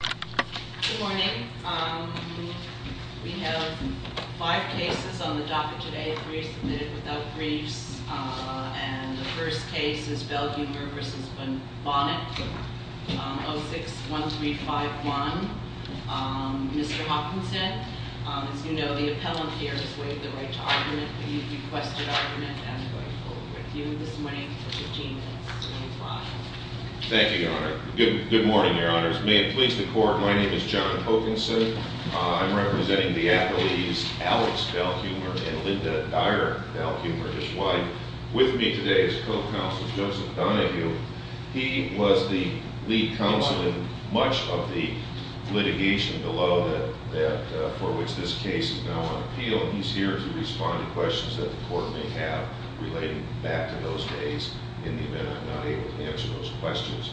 Good morning. We have five cases on the docket today, three submitted without briefs. And the first case is Belhumeur v. Bonnett, 06-1351. Mr. Hopkinson, as you know, the appellant here has waived the right to argument. He requested argument and I'm going to hold it with you this morning at 15 minutes to 8 o'clock. Thank you, Your Honor. Good morning, Your Honors. May it please the Court, my name is John Hopkinson. I'm representing the appellees Alex Belhumeur and Linda Dyer Belhumeur, his wife. With me today is Co-Counsel Joseph Donahue. He was the lead counsel in much of the litigation below for which this case is now on appeal. He's here to respond to questions that the Court may have relating back to those days in the event I'm not able to answer those questions.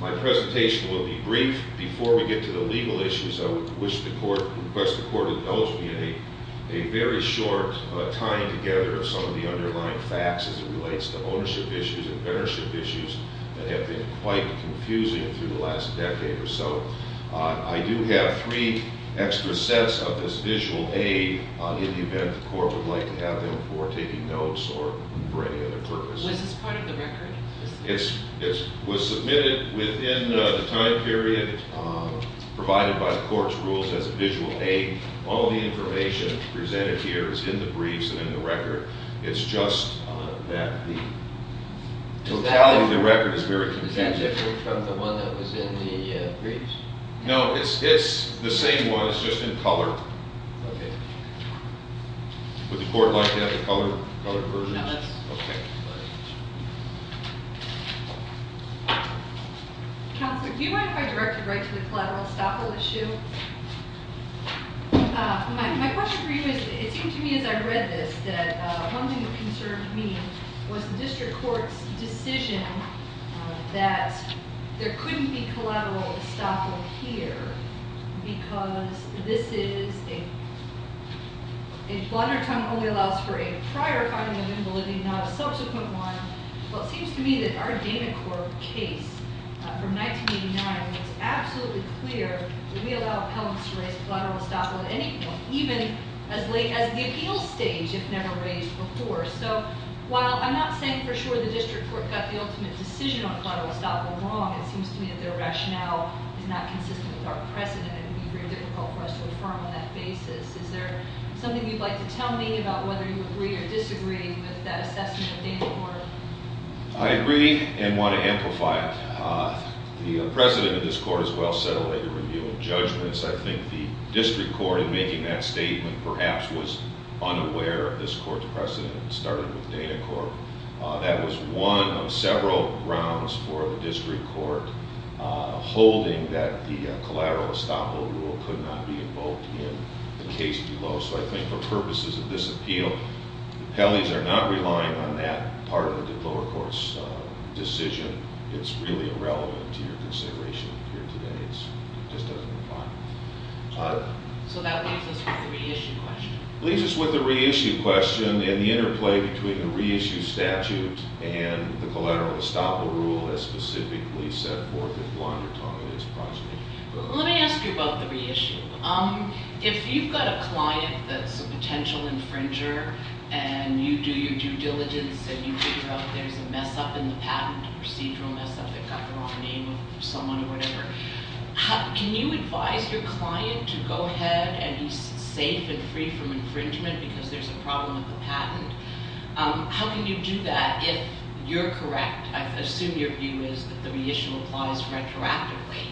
My presentation will be brief. Before we get to the legal issues, I would request the Court indulge me in a very short tying together of some of the underlying facts as it relates to ownership issues and mentorship issues that have been quite confusing through the last decade or so. I do have three extra sets of this visual aid in the event the Court would like to have them for taking notes or for any other purpose. Was this part of the record? It was submitted within the time period provided by the Court's rules as a visual aid. All the information presented here is in the briefs and in the record. It's just that the totality of the record is very contentious. Is it different from the one that was in the briefs? No, it's the same one. It's just in color. Okay. Would the Court like to have the colored version? No, that's fine. Okay. Counselor, do you mind if I direct you right to the collateral estoppel issue? My question for you is, it seems to me as I read this, that one thing that concerned me was the District Court's decision that there couldn't be collateral estoppel here because this is a, a blunder tongue only allows for a prior finding of invalidity, not a subsequent one. Well, it seems to me that our Dana Court case from 1989 was absolutely clear that we allow appellants to raise collateral estoppel at any point, even as late as the appeal stage, if never raised before. So, while I'm not saying for sure the District Court got the ultimate decision on collateral estoppel wrong, it seems to me that their rationale is not consistent with our precedent and it would be very difficult for us to affirm on that basis. Is there something you'd like to tell me about whether you agree or disagree with that assessment of Dana Court? I agree and want to amplify it. The precedent of this Court as well set a later review of judgments. I think the District Court, in making that statement, perhaps was unaware of this Court's precedent. It started with Dana Court. That was one of several grounds for the District Court holding that the collateral estoppel rule could not be invoked in the case below. So, I think for purposes of this appeal, the appellees are not relying on that part of the lower court's decision. It's really irrelevant to your consideration here today. It just doesn't apply. So, that leaves us with the reissue question. And the interplay between the reissue statute and the collateral estoppel rule as specifically set forth in Blondertongue and its precedent. Let me ask you about the reissue. If you've got a client that's a potential infringer and you do your due diligence and you figure out there's a mess-up in the patent, a procedural mess-up that got the wrong name of someone or whatever, can you advise your client to go ahead and be safe and free from infringement because there's a problem with the patent? How can you do that if you're correct? I assume your view is that the reissue applies retroactively,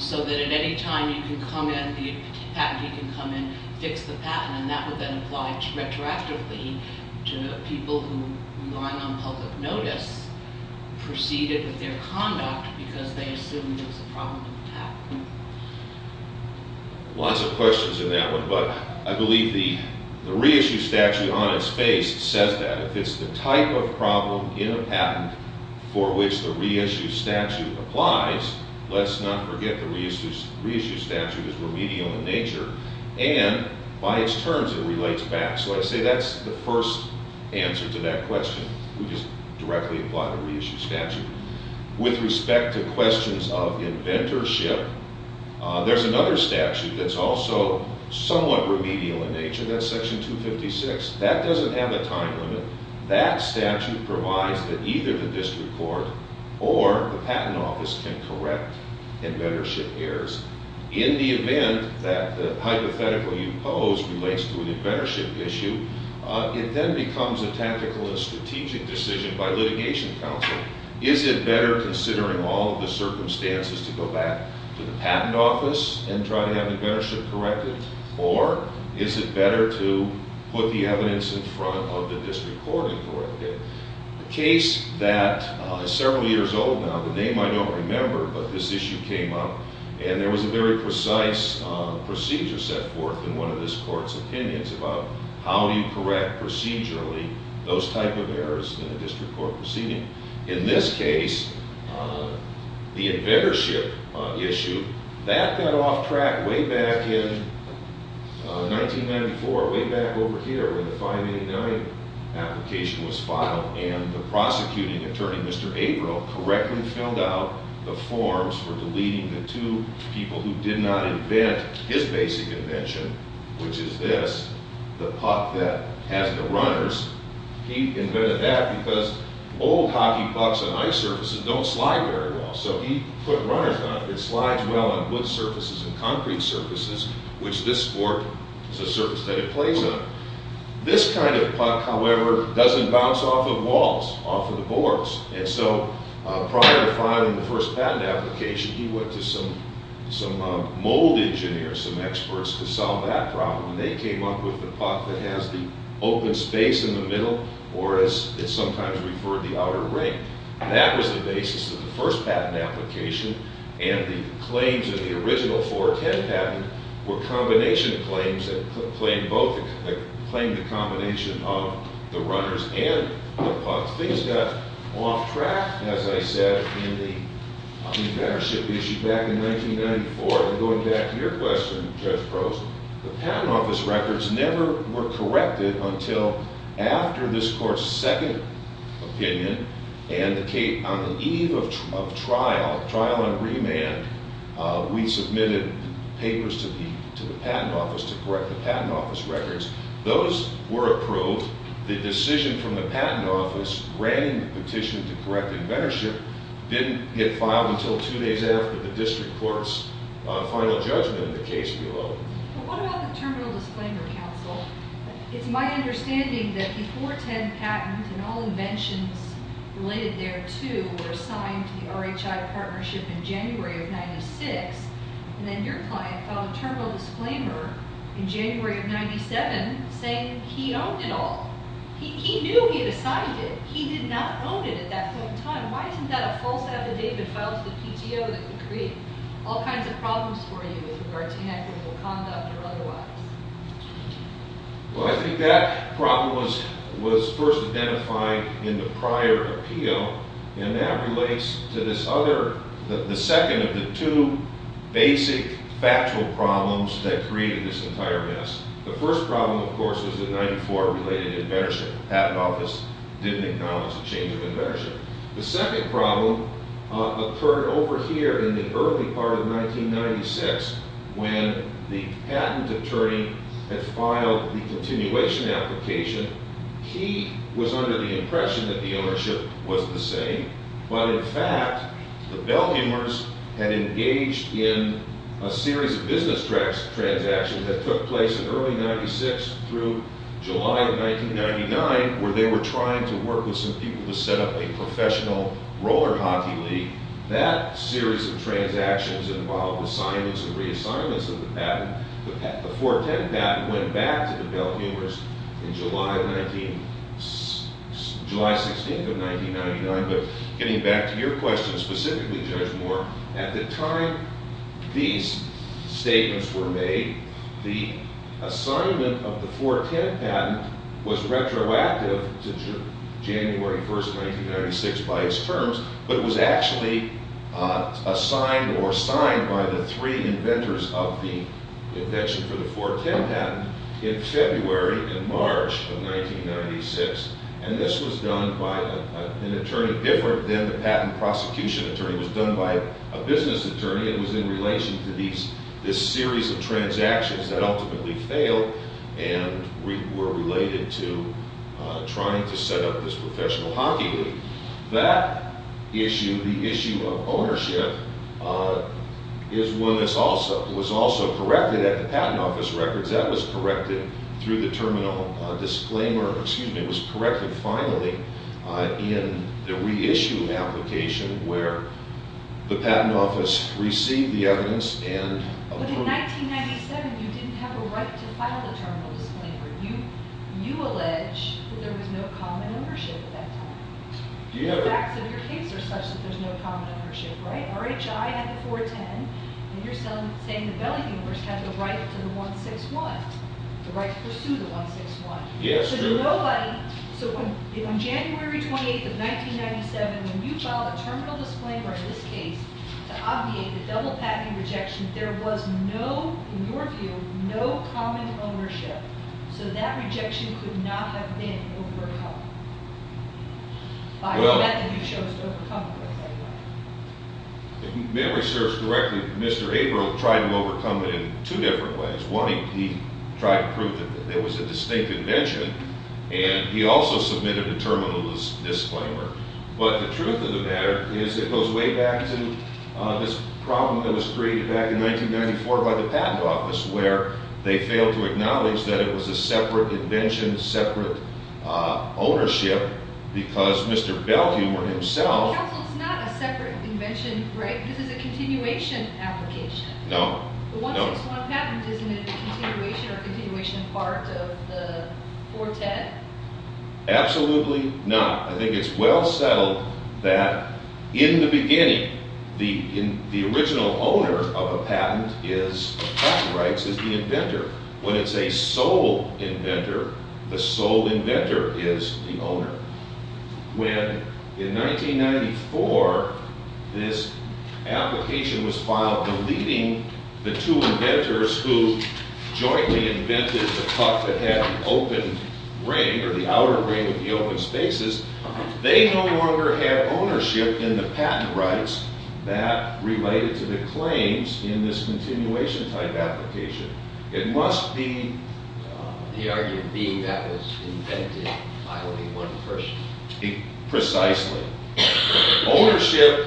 so that at any time you can come in, the patentee can come in, fix the patent, and that would then apply retroactively to people who, relying on public notice, proceeded with their conduct because they assumed there was a problem with the patent. Lots of questions in that one. But I believe the reissue statute on its face says that. If it's the type of problem in a patent for which the reissue statute applies, let's not forget the reissue statute is remedial in nature. And by its terms, it relates back. So I say that's the first answer to that question. We just directly apply the reissue statute. With respect to questions of inventorship, there's another statute that's also somewhat remedial in nature. That's Section 256. That doesn't have a time limit. That statute provides that either the district court or the patent office can correct inventorship errors in the event that the hypothetical you pose relates to an inventorship issue. It then becomes a tactical and strategic decision by litigation counsel. Is it better considering all of the circumstances to go back to the patent office and try to have inventorship corrected, or is it better to put the evidence in front of the district court and correct it? A case that is several years old now, the name I don't remember, but this issue came up, and there was a very precise procedure set forth in one of this court's opinions about how do you correct procedurally those type of errors in a district court proceeding. In this case, the inventorship issue, that got off track way back in 1994, way back over here when the 589 application was filed, and the prosecuting attorney, Mr. April, correctly filled out the forms for deleting the two people who did not invent his basic invention, which is this, the puck that has the runners. He invented that because old hockey pucks on ice surfaces don't slide very well, so he put runners on it. It slides well on wood surfaces and concrete surfaces, which this sport is a surface that it plays on. This kind of puck, however, doesn't bounce off of walls, off of the boards, and so prior to filing the first patent application, he went to some mold engineers, some experts, to solve that problem, and they came up with the puck that has the open space in the middle, or as it's sometimes referred, the outer ring. That was the basis of the first patent application, and the claims of the original 410 patent were combination claims that claimed the combination of the runners and the pucks. Things got off track, as I said, in the ownership issue back in 1994, and going back to your question, Judge Gross, the patent office records never were corrected until after this court's second opinion, and on the eve of trial, trial and remand, we submitted papers to the patent office to correct the patent office records. Those were approved. The decision from the patent office, granting the petition to correct inventorship, didn't get filed until two days after the district court's final judgment in the case below. What about the terminal disclaimer, counsel? It's my understanding that the 410 patent and all inventions related there to were assigned to the RHI partnership in January of 1996, and then your client filed a terminal disclaimer in January of 1997, saying he owned it all. He knew he had assigned it. He did not own it at that point in time. Why isn't that a false affidavit filed to the PTO that could create all kinds of problems for you with regard to inequitable conduct or otherwise? Well, I think that problem was first identified in the prior appeal, and that relates to this other, the second of the two basic factual problems that created this entire mess. The first problem, of course, was the 94 related inventorship. The patent office didn't acknowledge the change of inventorship. The second problem occurred over here in the early part of 1996 when the patent attorney had filed the continuation application. He was under the impression that the ownership was the same, but in fact, the Bellhammers had engaged in a series of business transactions that took place in early 1996 through July of 1999 where they were trying to work with some people to set up a professional roller hockey league. That series of transactions involved assignments and reassignments of the patent. The 410 patent went back to the Bellhammers in July 16th of 1999, but getting back to your question specifically, Judge Moore, at the time these statements were made, the assignment of the 410 patent was retroactive to January 1st, 1996 by its terms, but it was actually assigned or signed by the three inventors of the invention for the 410 patent in February and March of 1996, and this was done by an attorney different than the patent prosecution attorney. It was done by a business attorney. It was in relation to this series of transactions that ultimately failed and were related to trying to set up this professional hockey league. That issue, the issue of ownership, is one that was also corrected at the Patent Office records. That was corrected through the terminal disclaimer. Excuse me. It was corrected finally in the reissue application where the Patent Office received the evidence and... But in 1997, you didn't have a right to file the terminal disclaimer. You allege that there was no common ownership at that time. The facts of your case are such that there's no common ownership, right? RHI had the 410, and you're saying the Bellhammers had the right to the 161, the right to pursue the 161. Yes, true. So nobody... So on January 28th of 1997, when you filed a terminal disclaimer in this case to obviate the double patent rejection, there was no, in your view, no common ownership. So that rejection could not have been overcome by the method you chose to overcome it with anyway. If memory serves correctly, Mr. Abram tried to overcome it in two different ways. One, he tried to prove that there was a distinct invention, and he also submitted a terminal disclaimer. But the truth of the matter is it goes way back to this problem that was created back in 1994 by the Patent Office where they failed to acknowledge that it was a separate invention, separate ownership, because Mr. Bellhammer himself... Counsel, it's not a separate invention, right? This is a continuation application. No. The 161 patent, isn't it a continuation or a continuation part of the 410? Absolutely not. I think it's well settled that in the beginning, the original owner of a patent is... the patent rights is the inventor. When it's a sole inventor, the sole inventor is the owner. When, in 1994, this application was filed deleting the two inventors who jointly invented the cuff that had an open ring or the outer ring with the open spaces, they no longer had ownership in the patent rights that related to the claims in this continuation type application. It must be... The argument being that was invented by only one person. Precisely. Ownership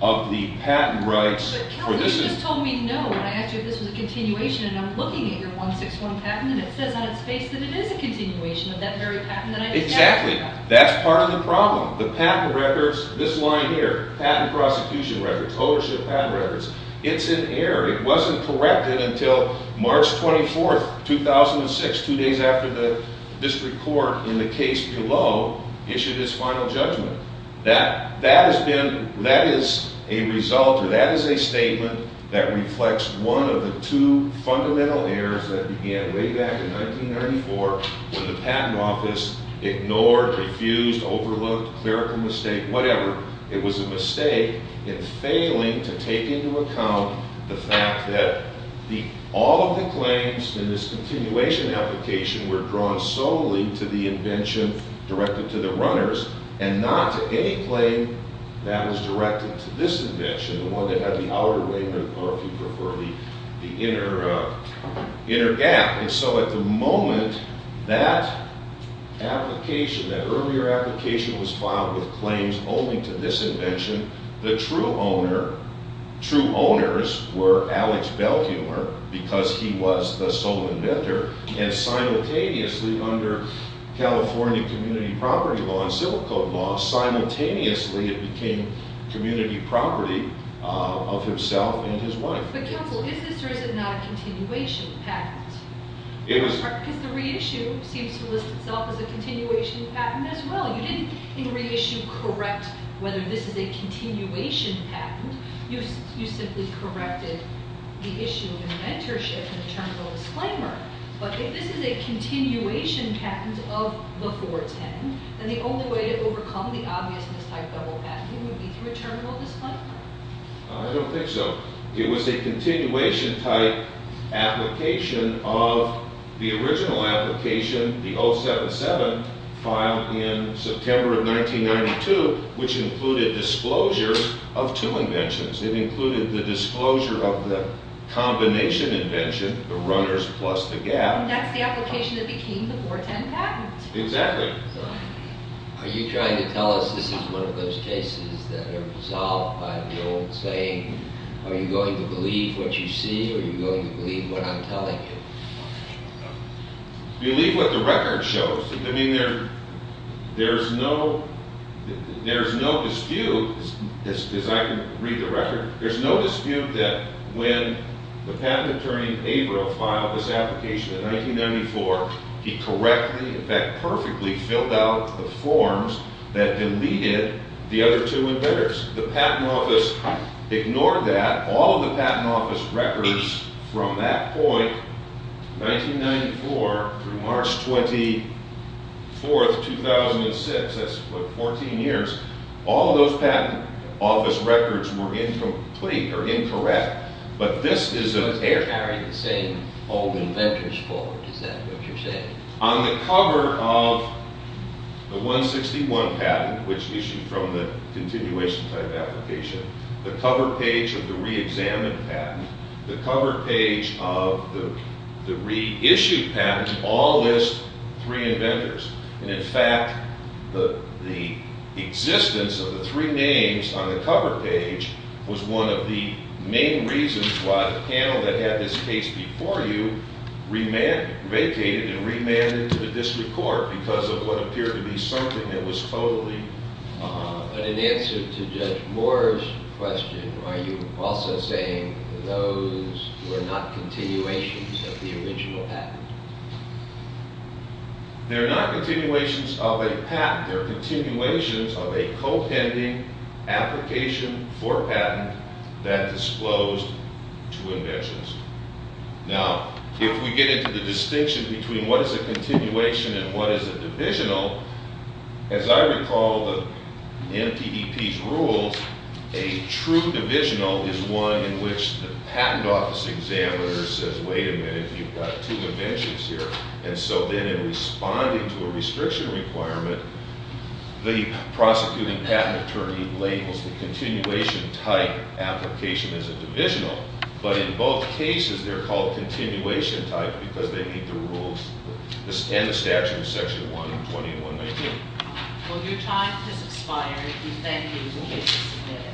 of the patent rights... Counsel, you just told me no when I asked you if this was a continuation, and I'm looking at your 161 patent and it says on its face that it is a continuation of that very patent that I just asked you about. Exactly. That's part of the problem. The patent records, this line here, patent prosecution records, ownership patent records, it's in error. It wasn't corrected until March 24th, 2006, two days after the district court in the case below issued its final judgment. That is a result or that is a statement that reflects one of the two fundamental errors that began way back in 1934 when the patent office ignored, refused, overlooked, clerical mistake, whatever. It was a mistake in failing to take into account the fact that all of the claims in this continuation application were drawn solely to the invention directed to the runners and not to any claim that was directed to this invention, the one that had the outer ring or, if you prefer, the inner gap. And so at the moment, that application, that earlier application was filed with claims only to this invention. The true owner, true owners, were Alex Belhumer because he was the sole inventor. And simultaneously under California community property law and civil code law, simultaneously it became community property of himself and his wife. But counsel, is this or is it not a continuation patent? It was. Because the reissue seems to list itself as a continuation patent as well. You didn't in reissue correct whether this is a continuation patent. You simply corrected the issue of inventorship in the terminal disclaimer. But if this is a continuation patent of the 410, then the only way to overcome the obvious mistype double patenting would be through a terminal disclaimer. I don't think so. It was a continuation type application of the original application, the 077, filed in September of 1992, which included disclosure of two inventions. It included the disclosure of the combination invention, the runners plus the gap. And that's the application that became the 410 patent. Exactly. Are you trying to tell us this is one of those cases that are resolved by the old saying, are you going to believe what you see or are you going to believe what I'm telling you? Believe what the record shows. I mean, there's no dispute, as I can read the record, there's no dispute that when the patent attorney Abra filed this application in 1994, he correctly, in fact, perfectly filled out the forms that deleted the other two inventors. The Patent Office ignored that. All of the Patent Office records from that point, 1994 through March 24, 2006, that's what, 14 years, all of those Patent Office records were incomplete or incorrect, but this is an error. They carry the same old inventors forward, is that what you're saying? On the cover of the 161 patent, which issued from the continuation type application, the cover page of the reexamined patent, the cover page of the reissued patent, all list three inventors, and, in fact, the existence of the three names on the cover page was one of the main reasons why the panel that had this case before you vacated and remanded to the district court because of what appeared to be something that was totally… But in answer to Judge Moore's question, are you also saying those were not continuations of the original patent? They're not continuations of a patent. They're continuations of a co-pending application for patent that disclosed two inventors. Now, if we get into the distinction between what is a continuation and what is a divisional, as I recall in PDP's rules, a true divisional is one in which the Patent Office examiner says, wait a minute, you've got two inventors here. And so then in responding to a restriction requirement, the prosecuting patent attorney labels the continuation type application as a divisional. But in both cases, they're called continuation type because they meet the rules and the statute of Section 120.119. Well, your time has expired. We thank you.